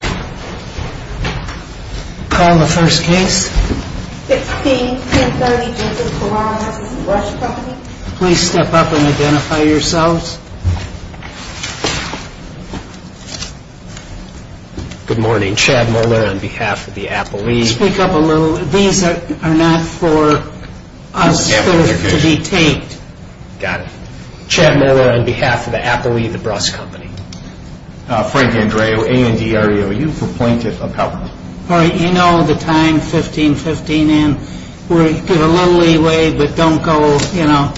Call the first case. 16-1030, Jensen, Corah v. The Bruss Company. Please step up and identify yourselves. Good morning. Chad Muller on behalf of the Appellee. Speak up a little. These are not for us to be taped. Got it. Chad Muller on behalf of the Appellee, The Bruss Company. Frank Andreou, A&D REOU for Plaintiff Appellant. All right. You know the time, 1515 in. Get a little leeway, but don't go, you know.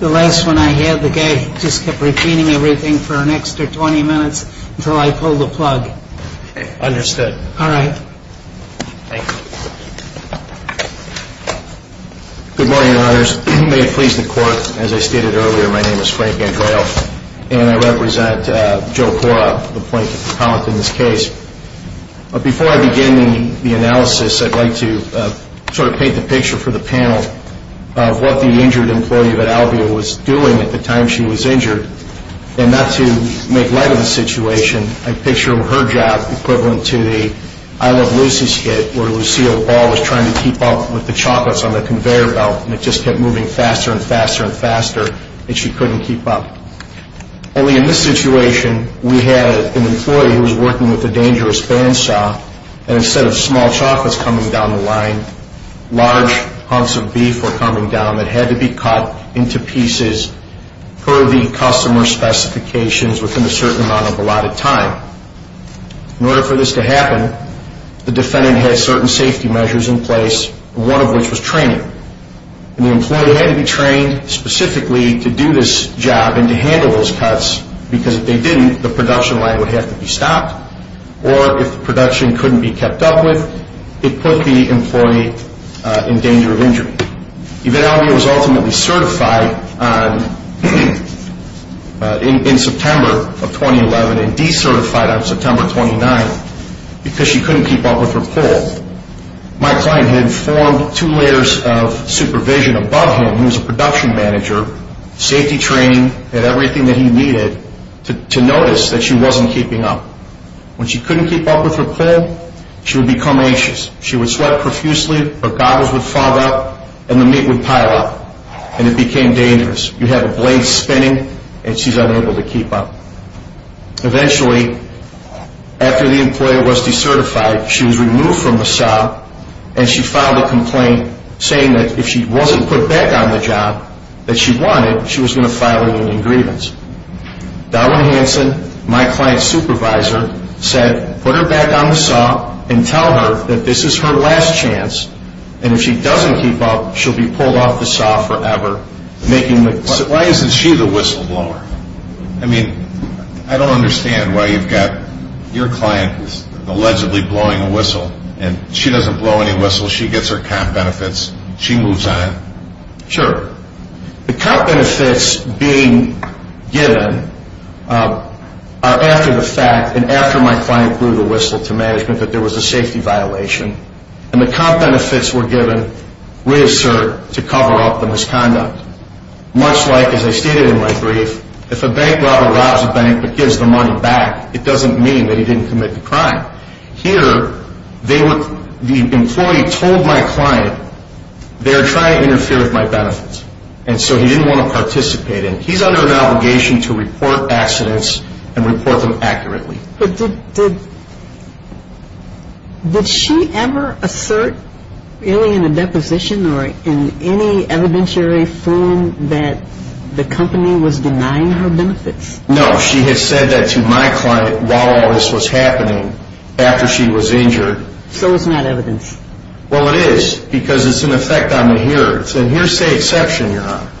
The last one I had, the guy just kept repeating everything for an extra 20 minutes until I pulled the plug. Okay. Understood. All right. Thank you. Good morning, Your Honors. May it please the Court, as I stated earlier, my name is Frank Andreou, and I represent Joe Corah, the Plaintiff Appellant in this case. Before I begin the analysis, I'd like to sort of paint the picture for the panel of what the injured employee of Ad Albio was doing at the time she was injured. And not to make light of the situation, I picture her job equivalent to the I Love Lucy skit where Lucille Ball was trying to keep up with the chocolates on the conveyor belt, and it just kept moving faster and faster and faster, and she couldn't keep up. Only in this situation, we had an employee who was working with a dangerous bandsaw, and instead of small chocolates coming down the line, large hunks of beef were coming down that had to be cut into pieces per the customer specifications within a certain amount of allotted time. In order for this to happen, the defendant had certain safety measures in place, one of which was training. The employee had to be trained specifically to do this job and to handle those cuts, because if they didn't, the production line would have to be stopped, or if the production couldn't be kept up with, it put the employee in danger of injury. Ad Albio was ultimately certified in September of 2011 and decertified on September 29, because she couldn't keep up with her pull. My client had formed two layers of supervision above him. He was a production manager, safety training, had everything that he needed to notice that she wasn't keeping up. When she couldn't keep up with her pull, she would become anxious. She would sweat profusely, her goggles would fog up, and the meat would pile up, and it became dangerous. You have a blade spinning, and she's unable to keep up. Eventually, after the employee was decertified, she was removed from the SAW, and she filed a complaint saying that if she wasn't put back on the job that she wanted, she was going to file a union grievance. Darwin Hanson, my client's supervisor, said, put her back on the SAW and tell her that this is her last chance, and if she doesn't keep up, she'll be pulled off the SAW forever. Why isn't she the whistleblower? I mean, I don't understand why you've got your client who's allegedly blowing a whistle, and she doesn't blow any whistles. She gets her comp benefits. She moves on. Sure. The comp benefits being given are after the fact, and after my client blew the whistle to management that there was a safety violation, and the comp benefits were given reassert to cover up the misconduct, much like, as I stated in my brief, if a bank robber robs a bank but gives the money back, it doesn't mean that he didn't commit the crime. Here, the employee told my client they were trying to interfere with my benefits, and so he didn't want to participate, and he's under an obligation to report accidents and report them accurately. But did she ever assert really in a deposition or in any evidentiary form that the company was denying her benefits? No. She has said that to my client while all this was happening after she was injured. So it's not evidence. Well, it is because it's an effect on the hearer. It's an hearsay exception, Your Honor.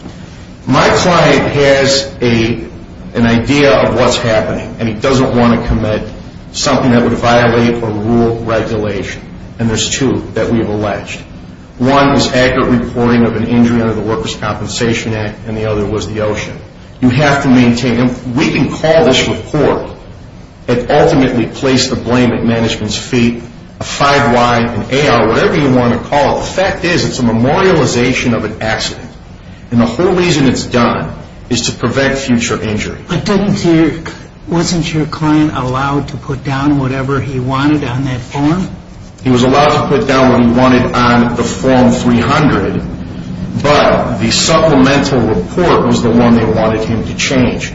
My client has an idea of what's happening, and he doesn't want to commit something that would violate a rule of regulation, and there's two that we've alleged. One is accurate reporting of an injury under the Workers' Compensation Act, and the other was the OSHA. You have to maintain them. We can call this report and ultimately place the blame at management's feet, a 5Y, an AR, whatever you want to call it. Well, the fact is it's a memorialization of an accident, and the whole reason it's done is to prevent future injury. But wasn't your client allowed to put down whatever he wanted on that form? He was allowed to put down what he wanted on the Form 300, but the supplemental report was the one they wanted him to change,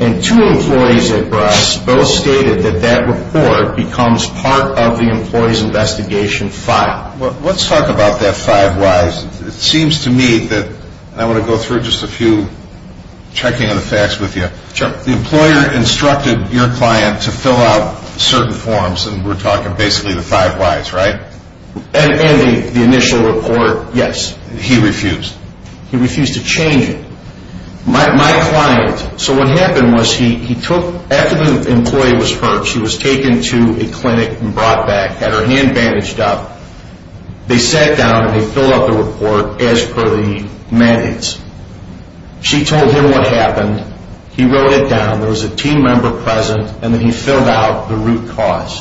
and two employees at Brock's both stated that that report becomes part of the employee's investigation file. Now, let's talk about that 5Y. It seems to me that I want to go through just a few checking of the facts with you. Sure. The employer instructed your client to fill out certain forms, and we're talking basically the 5Ys, right? And the initial report, yes. He refused. He refused to change it. My client, so what happened was he took, after the employee was hurt, she was taken to a clinic and brought back, had her hand bandaged up. They sat down and they filled out the report as per the mandates. She told him what happened. He wrote it down. There was a team member present, and then he filled out the root cause.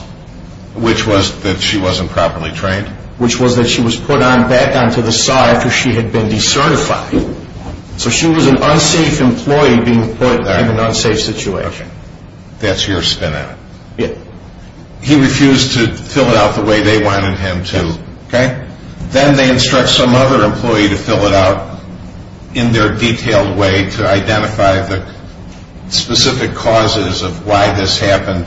Which was that she wasn't properly trained? Which was that she was put back onto the side after she had been decertified. So she was an unsafe employee being put in an unsafe situation. That's your spin on it? Yes. He refused to fill it out the way they wanted him to, okay? Then they instruct some other employee to fill it out in their detailed way to identify the specific causes of why this happened,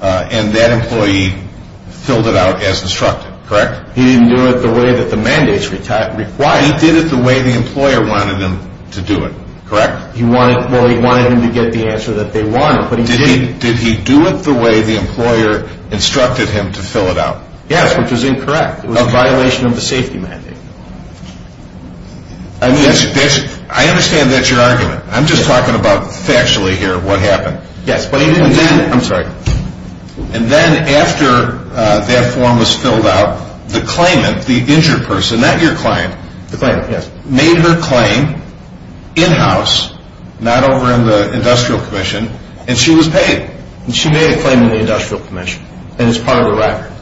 and that employee filled it out as instructed, correct? He didn't do it the way that the mandates required. He did it the way the employer wanted him to do it, correct? Well, he wanted him to get the answer that they wanted, but he didn't. Did he do it the way the employer instructed him to fill it out? Yes, which was incorrect. It was a violation of the safety mandate. I understand that's your argument. I'm just talking about factually here what happened. Yes, but he didn't do it. I'm sorry. And then after that form was filled out, the claimant, the injured person, not your client, made her claim in-house, not over in the industrial commission, and she was paid. She made a claim in the industrial commission, and it's part of the record.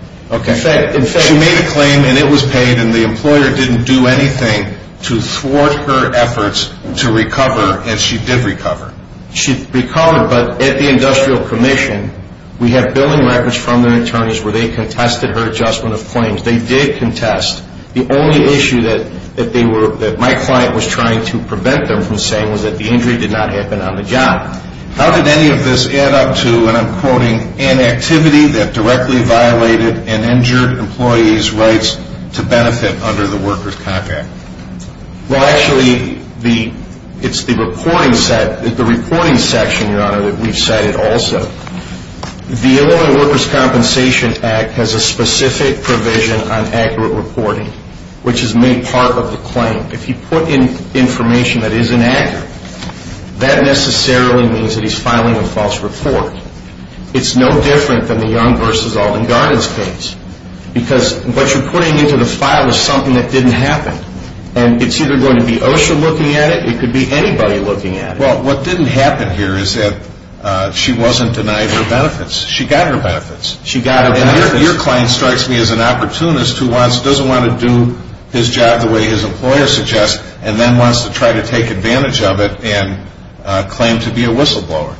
She made a claim, and it was paid, and the employer didn't do anything to thwart her efforts to recover, and she did recover. She recovered, but at the industrial commission, they did contest. The only issue that my client was trying to prevent them from saying was that the injury did not happen on the job. How did any of this add up to, and I'm quoting, an activity that directly violated and injured employees' rights to benefit under the Workers' Compact? Well, actually, it's the reporting section, Your Honor, that we've cited also. The Illinois Workers' Compensation Act has a specific provision on accurate reporting, which is made part of the claim. If you put in information that is inaccurate, that necessarily means that he's filing a false report. It's no different than the Young v. Alden Gardens case because what you're putting into the file is something that didn't happen, and it's either going to be OSHA looking at it. It could be anybody looking at it. Well, what didn't happen here is that she wasn't denied her benefits. She got her benefits. She got her benefits. And your client strikes me as an opportunist who doesn't want to do his job the way his employer suggests and then wants to try to take advantage of it and claim to be a whistleblower.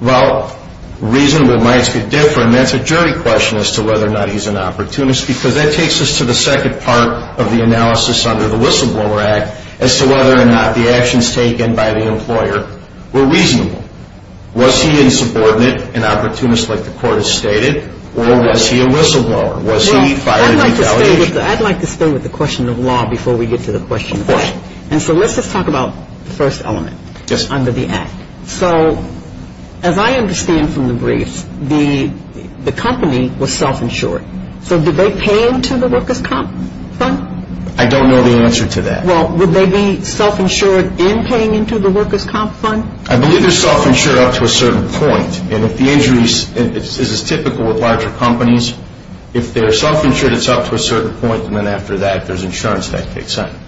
Well, reason might be different. That's a jury question as to whether or not he's an opportunist because that takes us to the second part of the analysis under the Whistleblower Act as to whether or not the actions taken by the employer were reasonable. Was he a subordinate, an opportunist like the court has stated, or was he a whistleblower? Was he filing retaliation? I'd like to start with the question of law before we get to the question of act. And so let's just talk about the first element under the act. So as I understand from the brief, the company was self-insured. So did they pay him to the workers' comp fund? I don't know the answer to that. Well, would they be self-insured in paying into the workers' comp fund? I believe they're self-insured up to a certain point. And if the injury is as typical with larger companies, if they're self-insured, it's up to a certain point, and then after that, if there's insurance, that makes sense.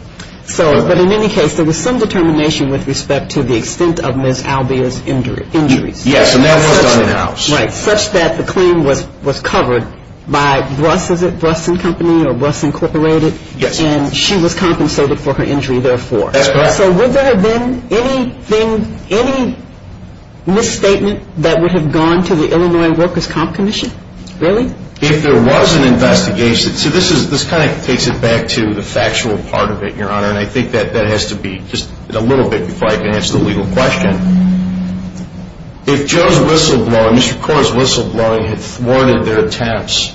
But in any case, there was some determination with respect to the extent of Ms. Albia's injuries. Yes, and that was done in-house. Right, such that the claim was covered by Bruss, is it? Bruss & Company or Bruss Incorporated? Yes. And she was compensated for her injury therefore. That's correct. So would there have been any misstatement that would have gone to the Illinois Workers' Comp Commission? Really? If there was an investigation, so this kind of takes it back to the factual part of it, Your Honor, and I think that has to be just a little bit before I can answer the legal question. If Joe's whistleblowing, Mr. Corr's whistleblowing had thwarted their attempts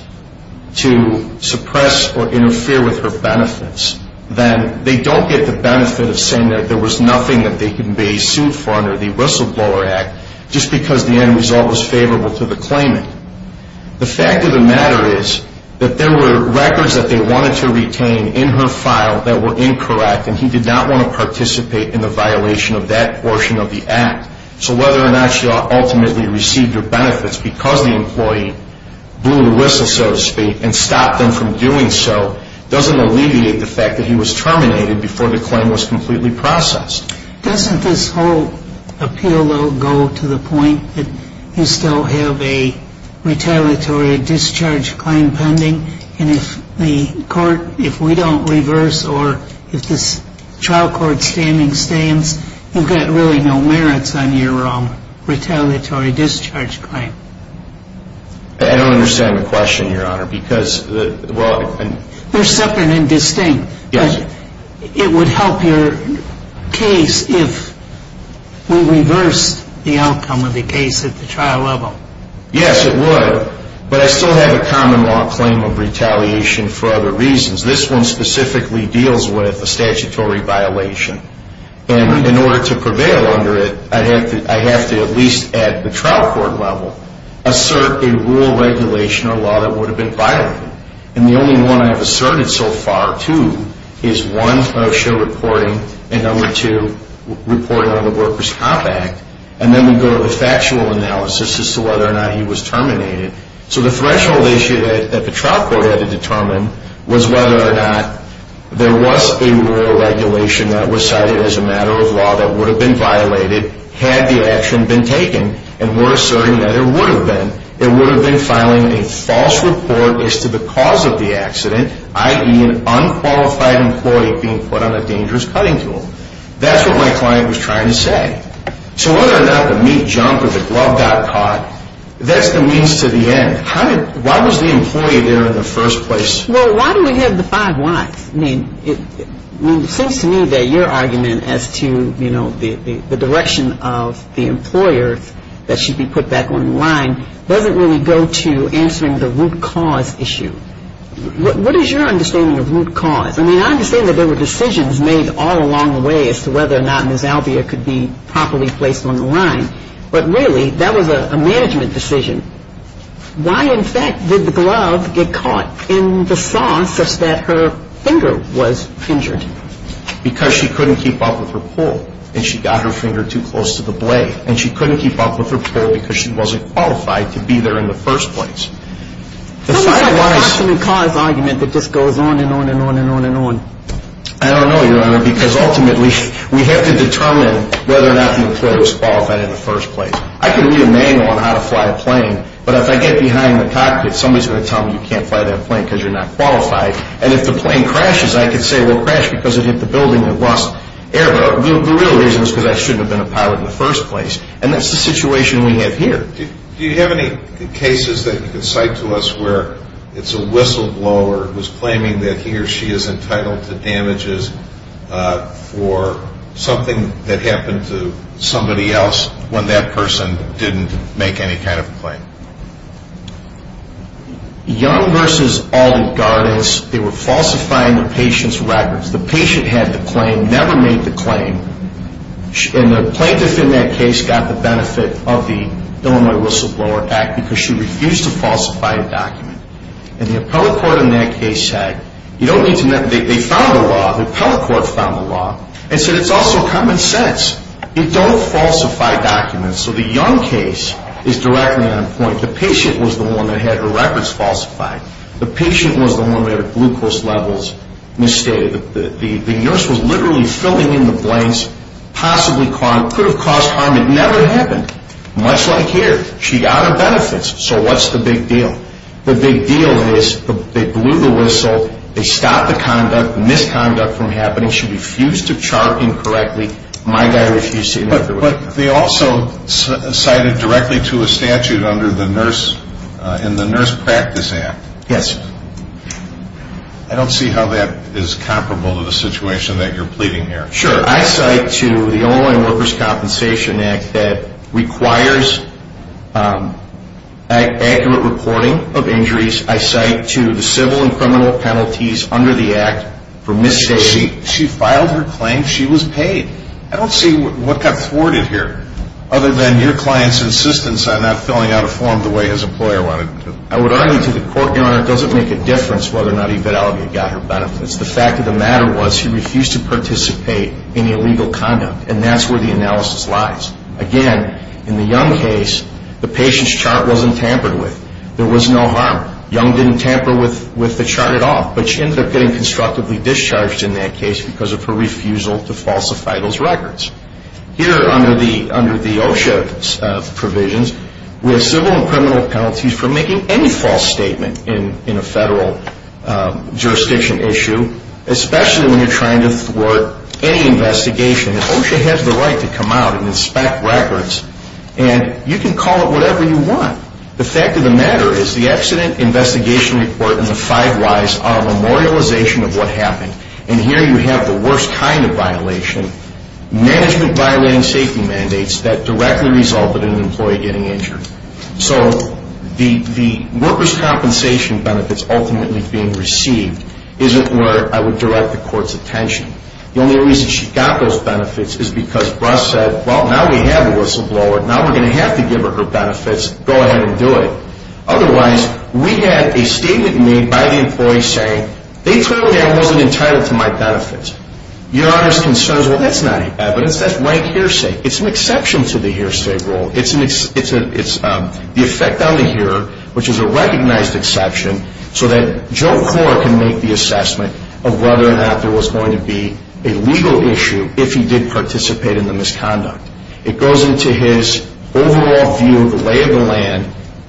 to suppress or interfere with her benefits, then they don't get the benefit of saying that there was nothing that they can be sued for under the Whistleblower Act just because the end result was favorable to the claimant. The fact of the matter is that there were records that they wanted to retain in her file that were incorrect, and he did not want to participate in the violation of that portion of the act. So whether or not she ultimately received her benefits because the employee blew the whistle, so to speak, and stopped them from doing so doesn't alleviate the fact that he was terminated before the claim was completely processed. Doesn't this whole appeal, though, go to the point that you still have a retaliatory discharge claim pending? And if we don't reverse or if this trial court standing stands, you've got really no merits on your retaliatory discharge claim. I don't understand the question, Your Honor, because the – They're separate and distinct. Yes. It would help your case if we reversed the outcome of the case at the trial level. Yes, it would. But I still have a common law claim of retaliation for other reasons. This one specifically deals with a statutory violation, and in order to prevail under it, I have to at least at the trial court level assert a rule, regulation, or law that would have been violated. And the only one I have asserted so far, too, is one, show reporting, and number two, report on the Workers' Comp Act. And then we go to the factual analysis as to whether or not he was terminated. So the threshold issue that the trial court had to determine was whether or not there was a rule, regulation, that was cited as a matter of law that would have been violated had the action been taken. And we're asserting that it would have been. It would have been filing a false report as to the cause of the accident, i.e., an unqualified employee being put on a dangerous cutting tool. That's what my client was trying to say. So whether or not the meat jumped or the glove got caught, that's the means to the end. Why was the employee there in the first place? Well, why do we have the five whys? I mean, it seems to me that your argument as to, you know, the direction of the employer that should be put back on the line doesn't really go to answering the root cause issue. What is your understanding of root cause? I mean, I understand that there were decisions made all along the way as to whether or not Ms. Alvea could be properly placed on the line. But really, that was a management decision. Why, in fact, did the glove get caught in the saw such that her finger was injured? Because she couldn't keep up with her pull, and she got her finger too close to the blade. And she couldn't keep up with her pull because she wasn't qualified to be there in the first place. So what's the root cause argument that just goes on and on and on and on and on? I don't know, Your Honor, because ultimately we have to determine whether or not the employee was qualified in the first place. I can read a manual on how to fly a plane, but if I get behind the cockpit, somebody's going to tell me you can't fly that plane because you're not qualified. And if the plane crashes, I can say, well, it crashed because it hit the building and lost air. But the real reason is because I shouldn't have been a pilot in the first place. And that's the situation we have here. Do you have any cases that you can cite to us where it's a whistleblower who's claiming that he or she is entitled to damages for something that happened to somebody else when that person didn't make any kind of claim? Young versus Alden Gardens, they were falsifying the patient's records. The patient had the claim, never made the claim. And the plaintiff in that case got the benefit of the Illinois Whistleblower Act because she refused to falsify a document. And the appellate court in that case said you don't need to know. They found the law. The appellate court found the law and said it's also common sense. You don't falsify documents. So the Young case is directly on point. The patient was the one that had her records falsified. The patient was the one that had her glucose levels misstated. The nurse was literally filling in the blanks, possibly could have caused harm. It never happened, much like here. She got her benefits. So what's the big deal? The big deal is they blew the whistle. They stopped the misconduct from happening. She refused to chart incorrectly. My guy refused to do it. But they also cited directly to a statute under the Nurse Practice Act. Yes. I don't see how that is comparable to the situation that you're pleading here. Sure. I cite to the Illinois Workers' Compensation Act that requires accurate reporting of injuries. I cite to the civil and criminal penalties under the act for misstating. She filed her claim. She was paid. I don't see what got thwarted here other than your client's insistence on not filling out a form the way his employer wanted him to. I would argue to the court, Your Honor, it doesn't make a difference whether or not he got her benefits. The fact of the matter was he refused to participate in illegal conduct, and that's where the analysis lies. Again, in the Young case, the patient's chart wasn't tampered with. There was no harm. Young didn't tamper with the chart at all, but she ended up getting constructively discharged in that case because of her refusal to falsify those records. Here under the OSHA provisions, we have civil and criminal penalties for making any false statement in a federal jurisdiction issue, especially when you're trying to thwart any investigation. OSHA has the right to come out and inspect records, and you can call it whatever you want. The fact of the matter is the accident investigation report and the five whys are a memorialization of what happened, and here you have the worst kind of violation, management violating safety mandates that directly resulted in an employee getting injured. So the workers' compensation benefits ultimately being received isn't where I would direct the court's attention. The only reason she got those benefits is because Russ said, well, now we have a whistleblower. Now we're going to have to give her her benefits. Go ahead and do it. Otherwise, we have a statement made by the employee saying, they told me I wasn't entitled to my benefits. Your Honor's concern is, well, that's not evidence. That's rank hearsay. It's an exception to the hearsay rule. It's the effect on the hearer, which is a recognized exception, so that Joe Clore can make the assessment of whether or not there was going to be a legal issue if he did participate in the misconduct. It goes into his overall view of the lay of the land.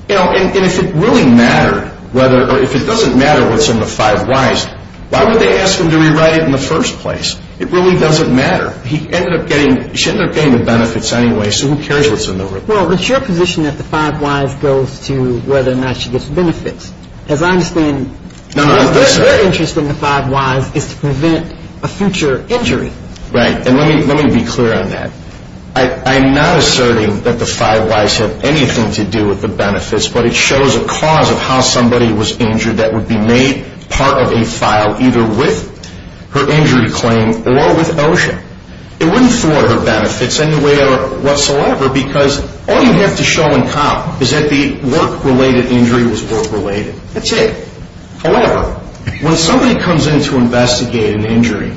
And if it really mattered, or if it doesn't matter what's in the five whys, why would they ask him to rewrite it in the first place? It really doesn't matter. She ended up getting the benefits anyway, so who cares what's in the report? Well, it's your position that the five whys goes to whether or not she gets benefits. As I understand, their interest in the five whys is to prevent a future injury. Right, and let me be clear on that. I'm not asserting that the five whys have anything to do with the benefits, but it shows a cause of how somebody was injured that would be made part of a file either with her injury claim or with OSHA. It wouldn't thwart her benefits in any way whatsoever because all you have to show in comm is that the work-related injury was work-related. That's it. However, when somebody comes in to investigate an injury,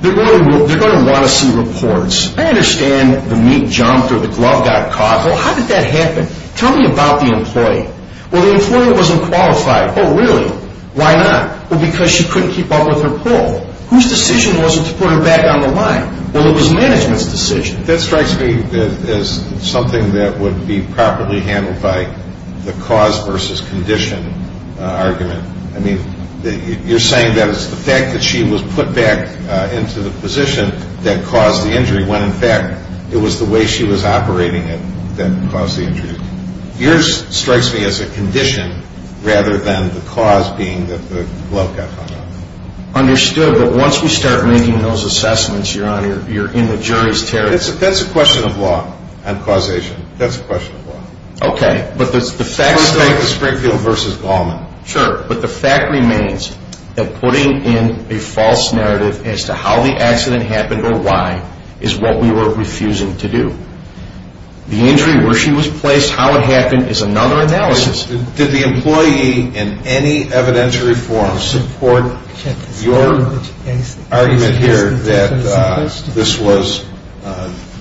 they're going to want to see reports. I understand the meat jumped or the glove got caught. Well, how did that happen? Tell me about the employee. Well, the employee wasn't qualified. Oh, really? Why not? Well, because she couldn't keep up with her pull. Whose decision was it to put her back on the line? Well, it was management's decision. That strikes me as something that would be properly handled by the cause versus condition argument. I mean, you're saying that it's the fact that she was put back into the position that caused the injury when, in fact, it was the way she was operating it that caused the injury. Yours strikes me as a condition rather than the cause being that the glove got caught. Understood. But once we start making those assessments, Your Honor, you're in the jury's territory. That's a question of law on causation. That's a question of law. Okay. But the fact remains that putting in a false narrative as to how the accident happened or why is what we were refusing to do. The injury, where she was placed, how it happened is another analysis. Did the employee in any evidentiary form support your argument here that this was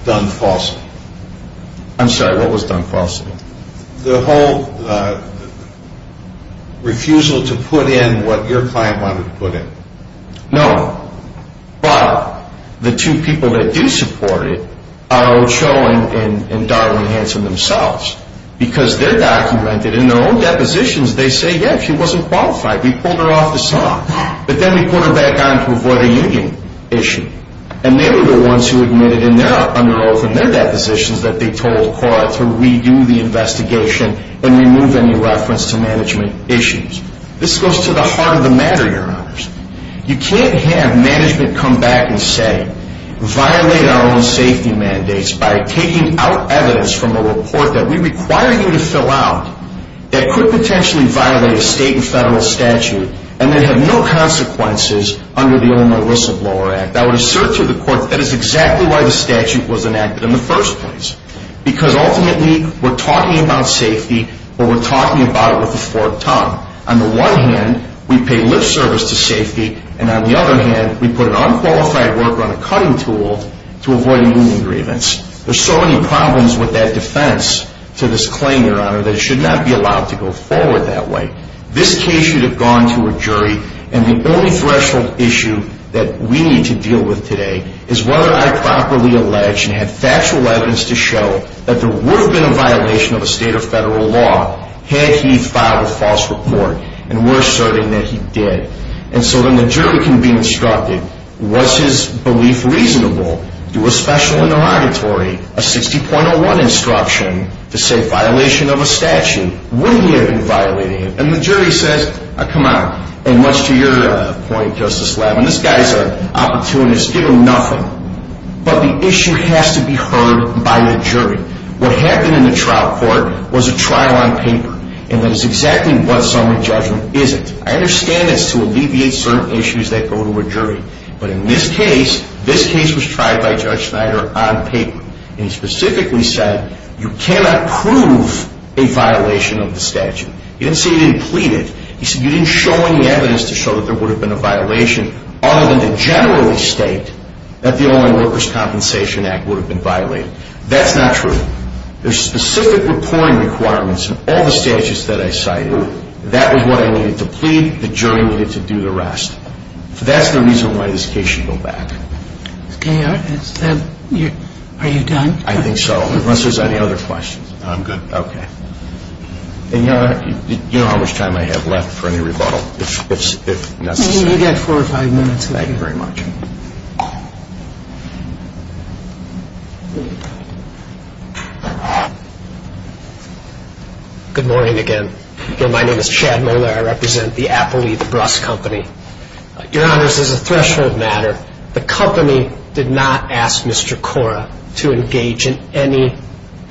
done falsely? I'm sorry. What was done falsely? The whole refusal to put in what your client wanted to put in. No. But the two people that do support it are Ochoa and Darwin Hanson themselves because they're documented in their own depositions. They say, yes, she wasn't qualified. We pulled her off the slot. But then we put her back on to avoid a union issue. And they were the ones who admitted in their under oath and their depositions that they told Cora to redo the investigation and remove any reference to management issues. This goes to the heart of the matter, Your Honors. You can't have management come back and say, violate our own safety mandates by taking out evidence from a report that we require you to fill out that could potentially violate a state and federal statute and that have no consequences under the old Melissa Blower Act. I would assert to the court that is exactly why the statute was enacted in the first place because ultimately we're talking about safety, but we're talking about it with a forked tongue. On the one hand, we pay lip service to safety. And on the other hand, we put an unqualified worker on a cutting tool to avoid union grievance. There's so many problems with that defense to this claim, Your Honor, that it should not be allowed to go forward that way. This case should have gone to a jury. And the only threshold issue that we need to deal with today is whether I properly allege and have factual evidence to show that there would have been a violation of a state or federal law had he filed a false report and we're certain that he did. And so then the jury can be instructed, was his belief reasonable? Do a special interrogatory, a 60.01 instruction to say violation of a statute. Would he have been violating it? And the jury says, come on. And much to your point, Justice Levin, this guy's opportunist. Give him nothing. But the issue has to be heard by the jury. What happened in the trial court was a trial on paper. And that is exactly what summary judgment isn't. I understand it's to alleviate certain issues that go to a jury. But in this case, this case was tried by Judge Schneider on paper. And he specifically said you cannot prove a violation of the statute. He didn't say you didn't plead it. He said you didn't show any evidence to show that there would have been a violation other than to generally state that the Oil and Workers' Compensation Act would have been violated. That's not true. There's specific reporting requirements in all the statutes that I cited. That was what I needed to plead. The jury needed to do the rest. So that's the reason why this case should go back. Are you done? I think so, unless there's any other questions. I'm good. Okay. And you know how much time I have left for any rebuttal, if necessary. You've got four or five minutes. Thank you very much. Good morning again. My name is Chad Moeller. I represent the Apple Leaf Bruss Company. Your Honors, as a threshold matter, the company did not ask Mr. Cora to engage in any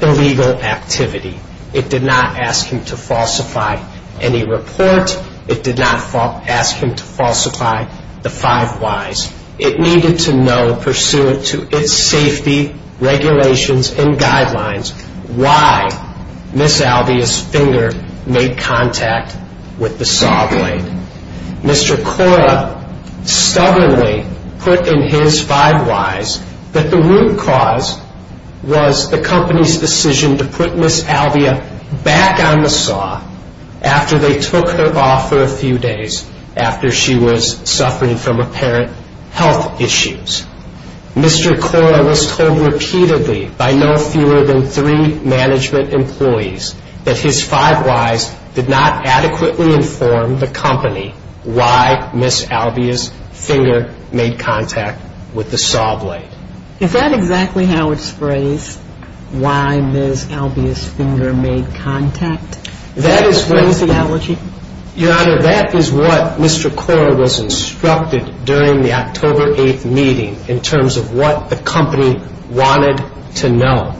illegal activity. It did not ask him to falsify any report. It did not ask him to falsify the five whys. It needed to know, pursuant to its safety regulations and guidelines, why Ms. Albia's finger made contact with the saw blade. Mr. Cora stubbornly put in his five whys that the root cause was the company's decision to put Ms. Albia back on the saw after they took her off for a few days after she was suffering from apparent health issues. Mr. Cora was told repeatedly by no fewer than three management employees that his five whys did not adequately inform the company why Ms. Albia's finger made contact with the saw blade. Is that exactly how it's phrased, why Ms. Albia's finger made contact? Is that the phraseology? Your Honor, that is what Mr. Cora was instructed during the October 8th meeting in terms of what the company wanted to know.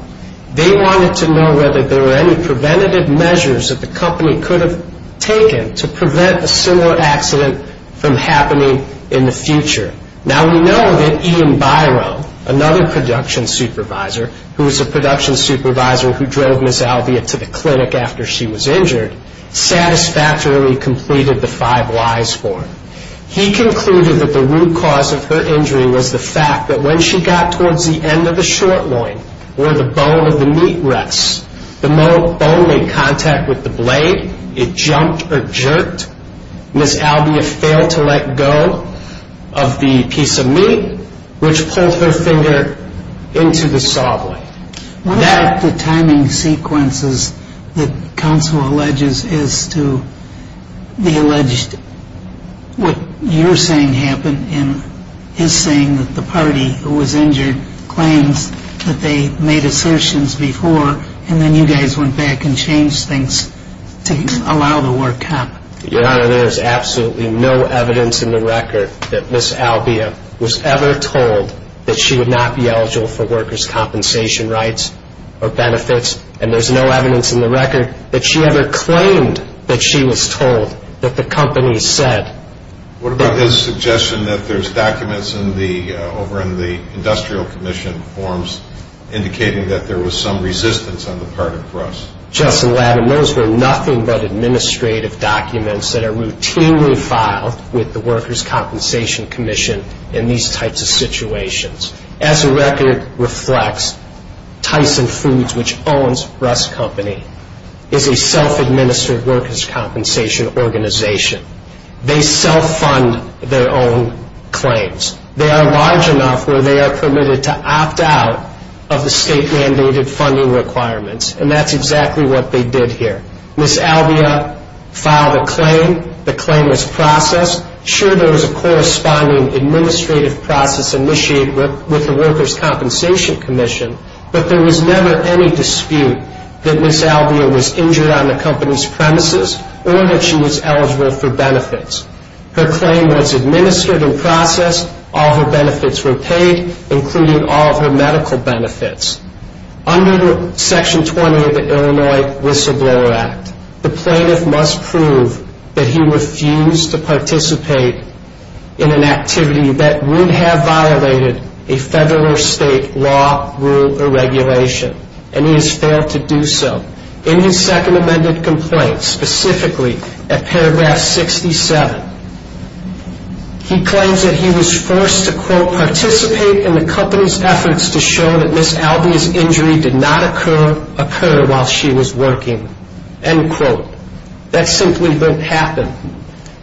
They wanted to know whether there were any preventative measures that the company could have taken to prevent a similar accident from happening in the future. Now, we know that Ian Byron, another production supervisor, who was a production supervisor who drove Ms. Albia to the clinic after she was injured, satisfactorily completed the five whys for her. He concluded that the root cause of her injury was the fact that when she got towards the end of the short loin where the bone of the meat rests, the bone made contact with the blade. It jumped or jerked. Ms. Albia failed to let go of the piece of meat, which pulled her finger into the saw blade. One of the timing sequences that counsel alleges is to the alleged, what you're saying happened in his saying that the party who was injured claims that they made assertions before, and then you guys went back and changed things to allow the work to happen. Your Honor, there is absolutely no evidence in the record that Ms. Albia was ever told that she would not be eligible for workers' compensation rights or benefits, and there's no evidence in the record that she ever claimed that she was told that the company said. What about his suggestion that there's documents over in the Industrial Commission forms indicating that there was some resistance on the part of Russ? Justice Aladdin, those were nothing but administrative documents that are routinely filed with the Workers' Compensation Commission in these types of situations. As the record reflects, Tyson Foods, which owns Russ Company, is a self-administered workers' compensation organization. They self-fund their own claims. They are large enough where they are permitted to opt out of the state-mandated funding requirements, and that's exactly what they did here. Ms. Albia filed a claim. The claim was processed. Sure, there was a corresponding administrative process initiated with the Workers' Compensation Commission, but there was never any dispute that Ms. Albia was injured on the company's premises or that she was eligible for benefits. Her claim was administered and processed. All her benefits were paid, including all of her medical benefits. Under Section 20 of the Illinois Whistleblower Act, the plaintiff must prove that he refused to participate in an activity that would have violated a federal or state law, rule, or regulation, and he has failed to do so. In his second amended complaint, specifically at paragraph 67, he claims that he was forced to, quote, participate in the company's efforts to show that Ms. Albia's injury did not occur while she was working, end quote. That simply didn't happen.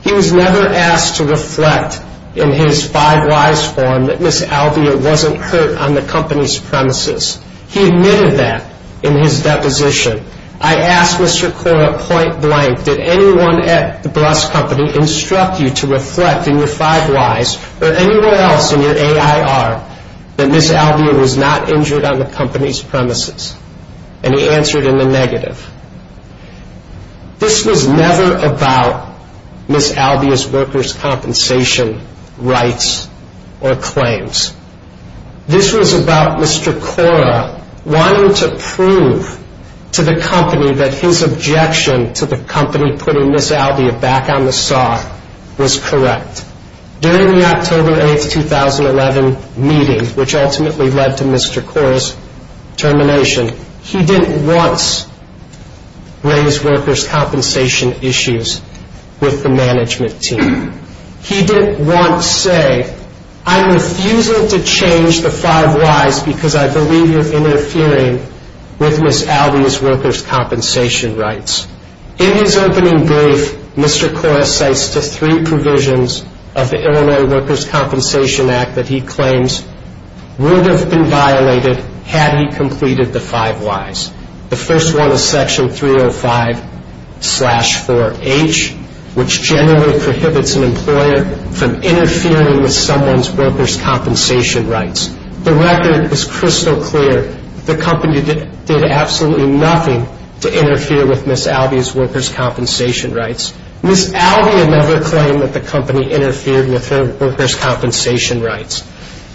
He was never asked to reflect in his five-whys form that Ms. Albia wasn't hurt on the company's premises. He admitted that in his deposition. I asked Mr. Cora point-blank, did anyone at the bus company instruct you to reflect in your five-whys or anywhere else in your AIR that Ms. Albia was not injured on the company's premises? And he answered in the negative. This was never about Ms. Albia's workers' compensation rights or claims. This was about Mr. Cora wanting to prove to the company that his objection to the company putting Ms. Albia back on the saw was correct. During the October 8, 2011 meeting, which ultimately led to Mr. Cora's termination, he didn't once raise workers' compensation issues with the management team. He didn't once say, I'm refusing to change the five-whys because I believe you're interfering with Ms. Albia's workers' compensation rights. In his opening brief, Mr. Cora cites the three provisions of the Illinois Workers' Compensation Act that he claims would have been violated had he completed the five-whys. The first one is Section 305-4H, which generally prohibits an employer from interfering with someone's workers' compensation rights. The record is crystal clear. The company did absolutely nothing to interfere with Ms. Albia's workers' compensation rights. Ms. Albia never claimed that the company interfered with her workers' compensation rights.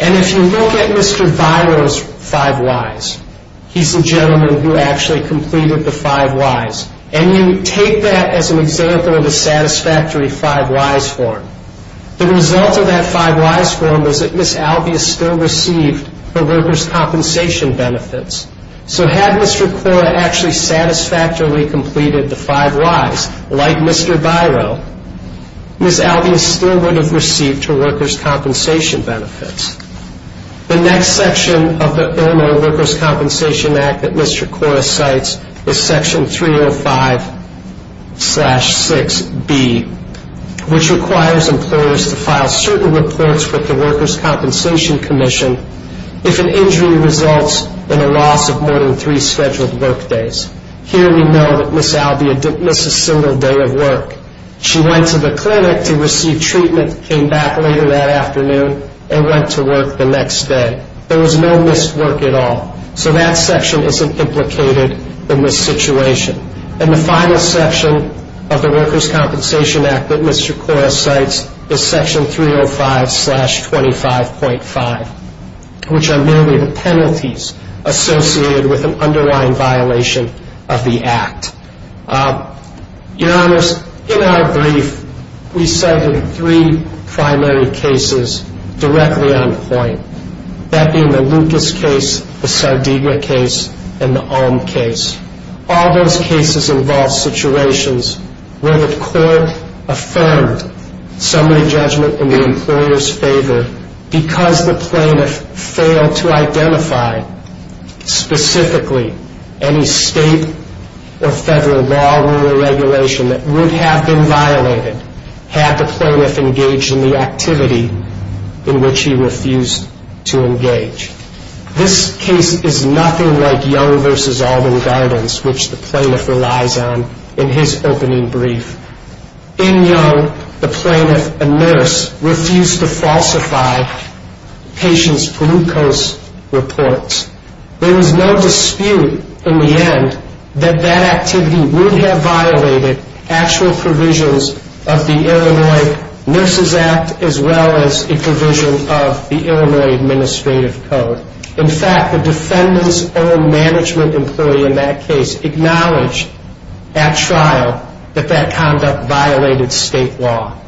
And if you look at Mr. Viro's five-whys, he's the gentleman who actually completed the five-whys, and you take that as an example of a satisfactory five-whys form, the result of that five-whys form is that Ms. Albia still received her workers' compensation benefits. So had Mr. Cora actually satisfactorily completed the five-whys, like Mr. Viro, Ms. Albia still would have received her workers' compensation benefits. The next section of the Illinois Workers' Compensation Act that Mr. Cora cites is Section 305-6B, which requires employers to file certain reports with the Workers' Compensation Commission if an injury results in a loss of more than three scheduled work days. Here we know that Ms. Albia didn't miss a single day of work. She went to the clinic to receive treatment, came back later that afternoon, and went to work the next day. There was no missed work at all. So that section isn't implicated in this situation. And the final section of the Workers' Compensation Act that Mr. Cora cites is Section 305-25.5, which are merely the penalties associated with an underlying violation of the Act. Your Honors, in our brief, we cited three primary cases directly on point, that being the Lucas case, the Sardegna case, and the Ulm case. All those cases involve situations where the court affirmed summary judgment in the employer's favor because the plaintiff failed to identify specifically any state or federal law or regulation that would have been violated had the plaintiff engaged in the activity in which he refused to engage. This case is nothing like Young v. Alban guidance, which the plaintiff relies on in his opening brief. In Young, the plaintiff, a nurse, refused to falsify patients' glucose reports. There was no dispute in the end that that activity would have violated actual provisions of the Illinois Nurses Act as well as a provision of the Illinois Administrative Code. In fact, the defendant's own management employee in that case acknowledged at trial that that conduct violated state law.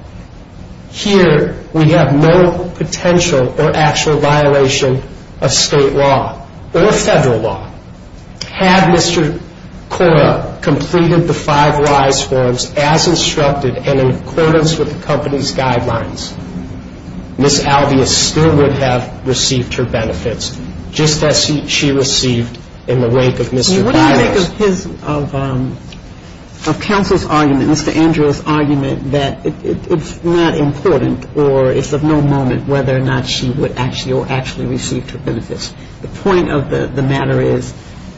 Here, we have no potential or actual violation of state law or federal law. Had Mr. Cora completed the five rise forms as instructed and in accordance with the company's guidelines, Ms. Alvius still would have received her benefits just as she received in the wake of Mr. Biles. What do you think of counsel's argument, Mr. Andrews' argument, that it's not important or it's of no moment whether or not she would actually or actually receive her benefits? The point of the matter is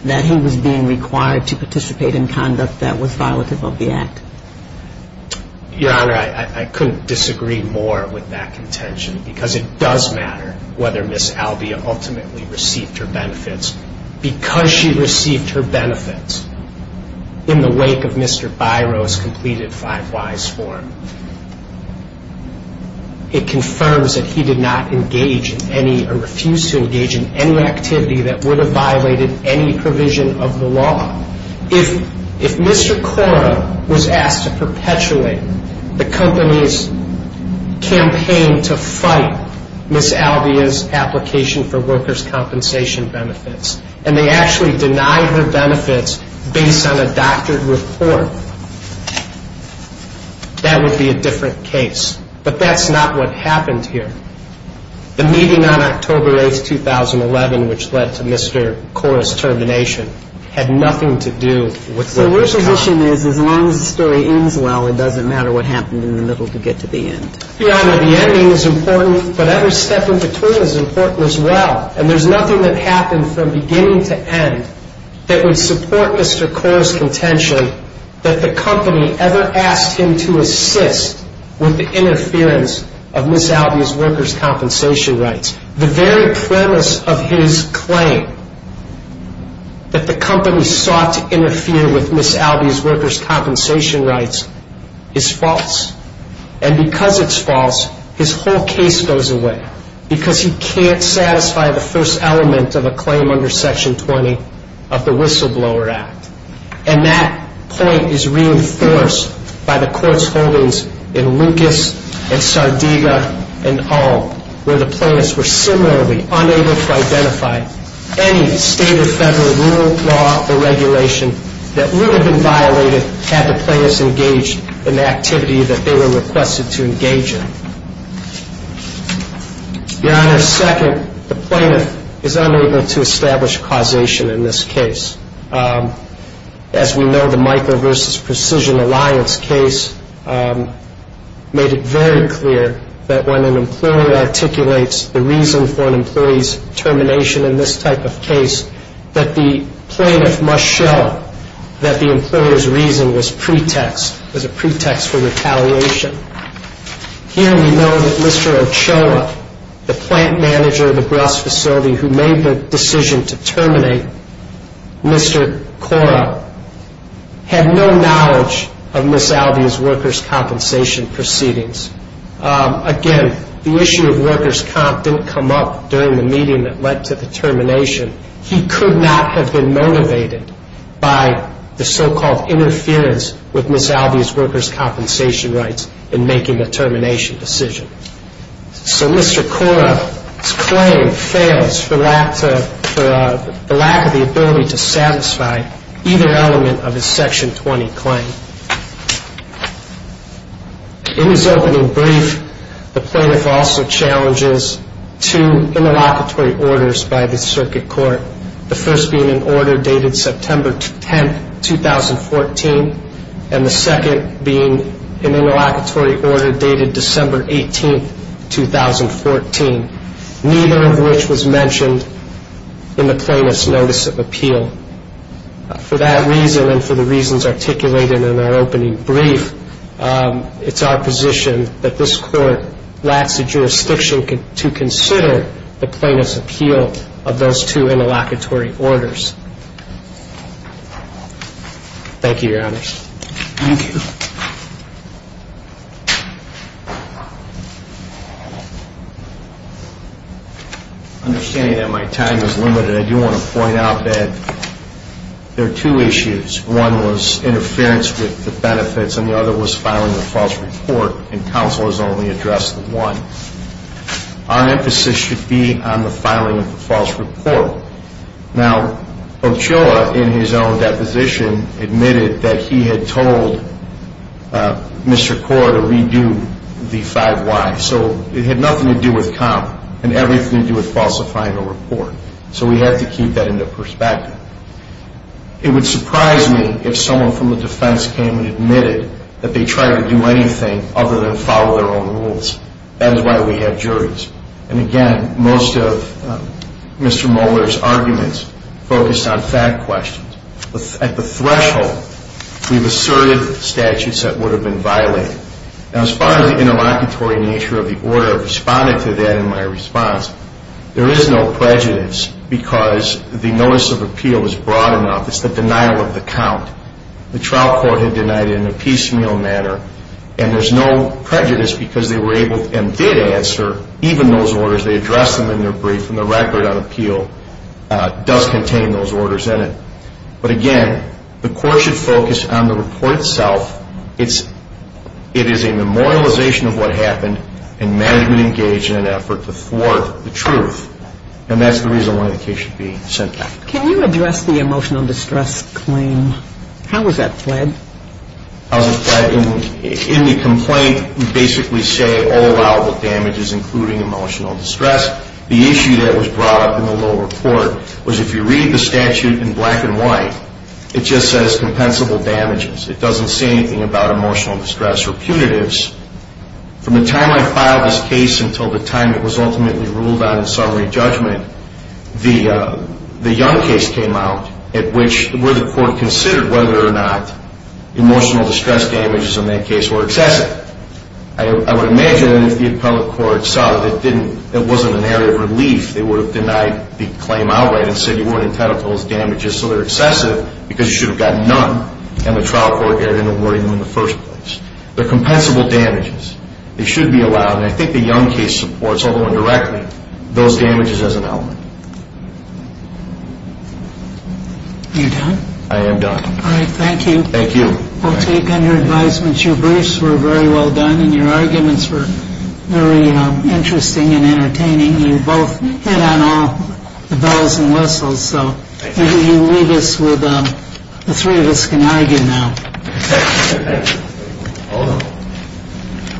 that he was being required to participate in conduct that was violative of the act. Your Honor, I couldn't disagree more with that contention because it does matter whether Ms. Alvius ultimately received her benefits. Because she received her benefits in the wake of Mr. Biles' completed five rise form, it confirms that he did not engage in any or refuse to engage in any activity that would have violated any provision of the law. If Mr. Cora was asked to perpetuate the company's campaign to fight Ms. Alvius' application for workers' compensation benefits and they actually denied her benefits based on a doctored report, that would be a different case. But that's not what happened here. The meeting on October 8th, 2011, which led to Mr. Cora's termination, had nothing to do with workers' compensation. So your position is as long as the story ends well, it doesn't matter what happened in the middle to get to the end? Your Honor, the ending is important, but every step in between is important as well. And there's nothing that happened from beginning to end that would support Mr. Cora's contention that the company ever asked him to assist with the interference of Ms. Alvius' workers' compensation rights. The very premise of his claim that the company sought to interfere with Ms. Alvius' workers' compensation rights is false. And because it's false, his whole case goes away. Because he can't satisfy the first element of a claim under Section 20 of the Whistleblower Act. And that point is reinforced by the Court's holdings in Lucas and Sardiga and Hall, where the plaintiffs were similarly unable to identify any state or federal rule, law, or regulation that would have been violated had the plaintiffs engaged in the activity that they were requested to engage in. Your Honor, second, the plaintiff is unable to establish causation in this case. As we know, the Michael v. Precision Alliance case made it very clear that when an employee articulates the reason for an employee's termination in this type of case, that the plaintiff must show that the employer's reason was a pretext for retaliation. Here we know that Mr. Ochoa, the plant manager of the Bras facility who made the decision to terminate Mr. Cora, had no knowledge of Ms. Alvius' workers' compensation proceedings. Again, the issue of workers' comp didn't come up during the meeting that led to the termination. He could not have been motivated by the so-called interference with Ms. Alvius' workers' compensation rights in making the termination decision. So Mr. Cora's claim fails for the lack of the ability to satisfy either element of his Section 20 claim. In his opening brief, the plaintiff also challenges two interlocutory orders by the Circuit Court, the first being an order dated September 10, 2014, and the second being an interlocutory order dated December 18, 2014, neither of which was mentioned in the plaintiff's notice of appeal. For that reason and for the reasons articulated in our opening brief, it's our position that this Court lacks the jurisdiction to consider the plaintiff's appeal of those two interlocutory orders. Thank you, Your Honor. Thank you. Understanding that my time is limited, I do want to point out that there are two issues. One was interference with the benefits and the other was filing a false report, and counsel has only addressed the one. Our emphasis should be on the filing of the false report. Now, Ochoa, in his own deposition, admitted that he had told Mr. Cora to redo the 5-Y. So it had nothing to do with comp and everything to do with falsifying a report. So we have to keep that into perspective. It would surprise me if someone from the defense came and admitted that they tried to do anything other than follow their own rules. That is why we have juries. And, again, most of Mr. Moeller's arguments focused on fact questions. At the threshold, we've asserted statutes that would have been violated. Now, as far as the interlocutory nature of the order, I've responded to that in my response. There is no prejudice because the notice of appeal is broad enough. It's the denial of the count. The trial court had denied it in a piecemeal manner, and there's no prejudice because they were able and did answer even those orders. They addressed them in their brief, and the record on appeal does contain those orders in it. But, again, the court should focus on the report itself. It is a memorialization of what happened and management engaged in an effort to thwart the truth. And that's the reason why the case should be sent back. Can you address the emotional distress claim? How was that fled? In the complaint, we basically say all allowable damages, including emotional distress. The issue that was brought up in the lower court was if you read the statute in black and white, it just says compensable damages. It doesn't say anything about emotional distress or punitives. From the time I filed this case until the time it was ultimately ruled out in summary judgment, the Young case came out at which the court considered whether or not emotional distress damages in that case were excessive. I would imagine if the appellate court saw that it wasn't an area of relief, they would have denied the claim outright and said you weren't entitled to those damages, so they're excessive because you should have gotten none, and the trial court didn't award them in the first place. They're compensable damages. They should be allowed. And I think the Young case supports, although indirectly, those damages as an element. Are you done? I am done. All right, thank you. Thank you. We'll take any advisements. Your briefs were very well done, and your arguments were very interesting and entertaining. You both hit on all the bells and whistles, so maybe you leave us with the three of us can argue now. Thank you. Hold on.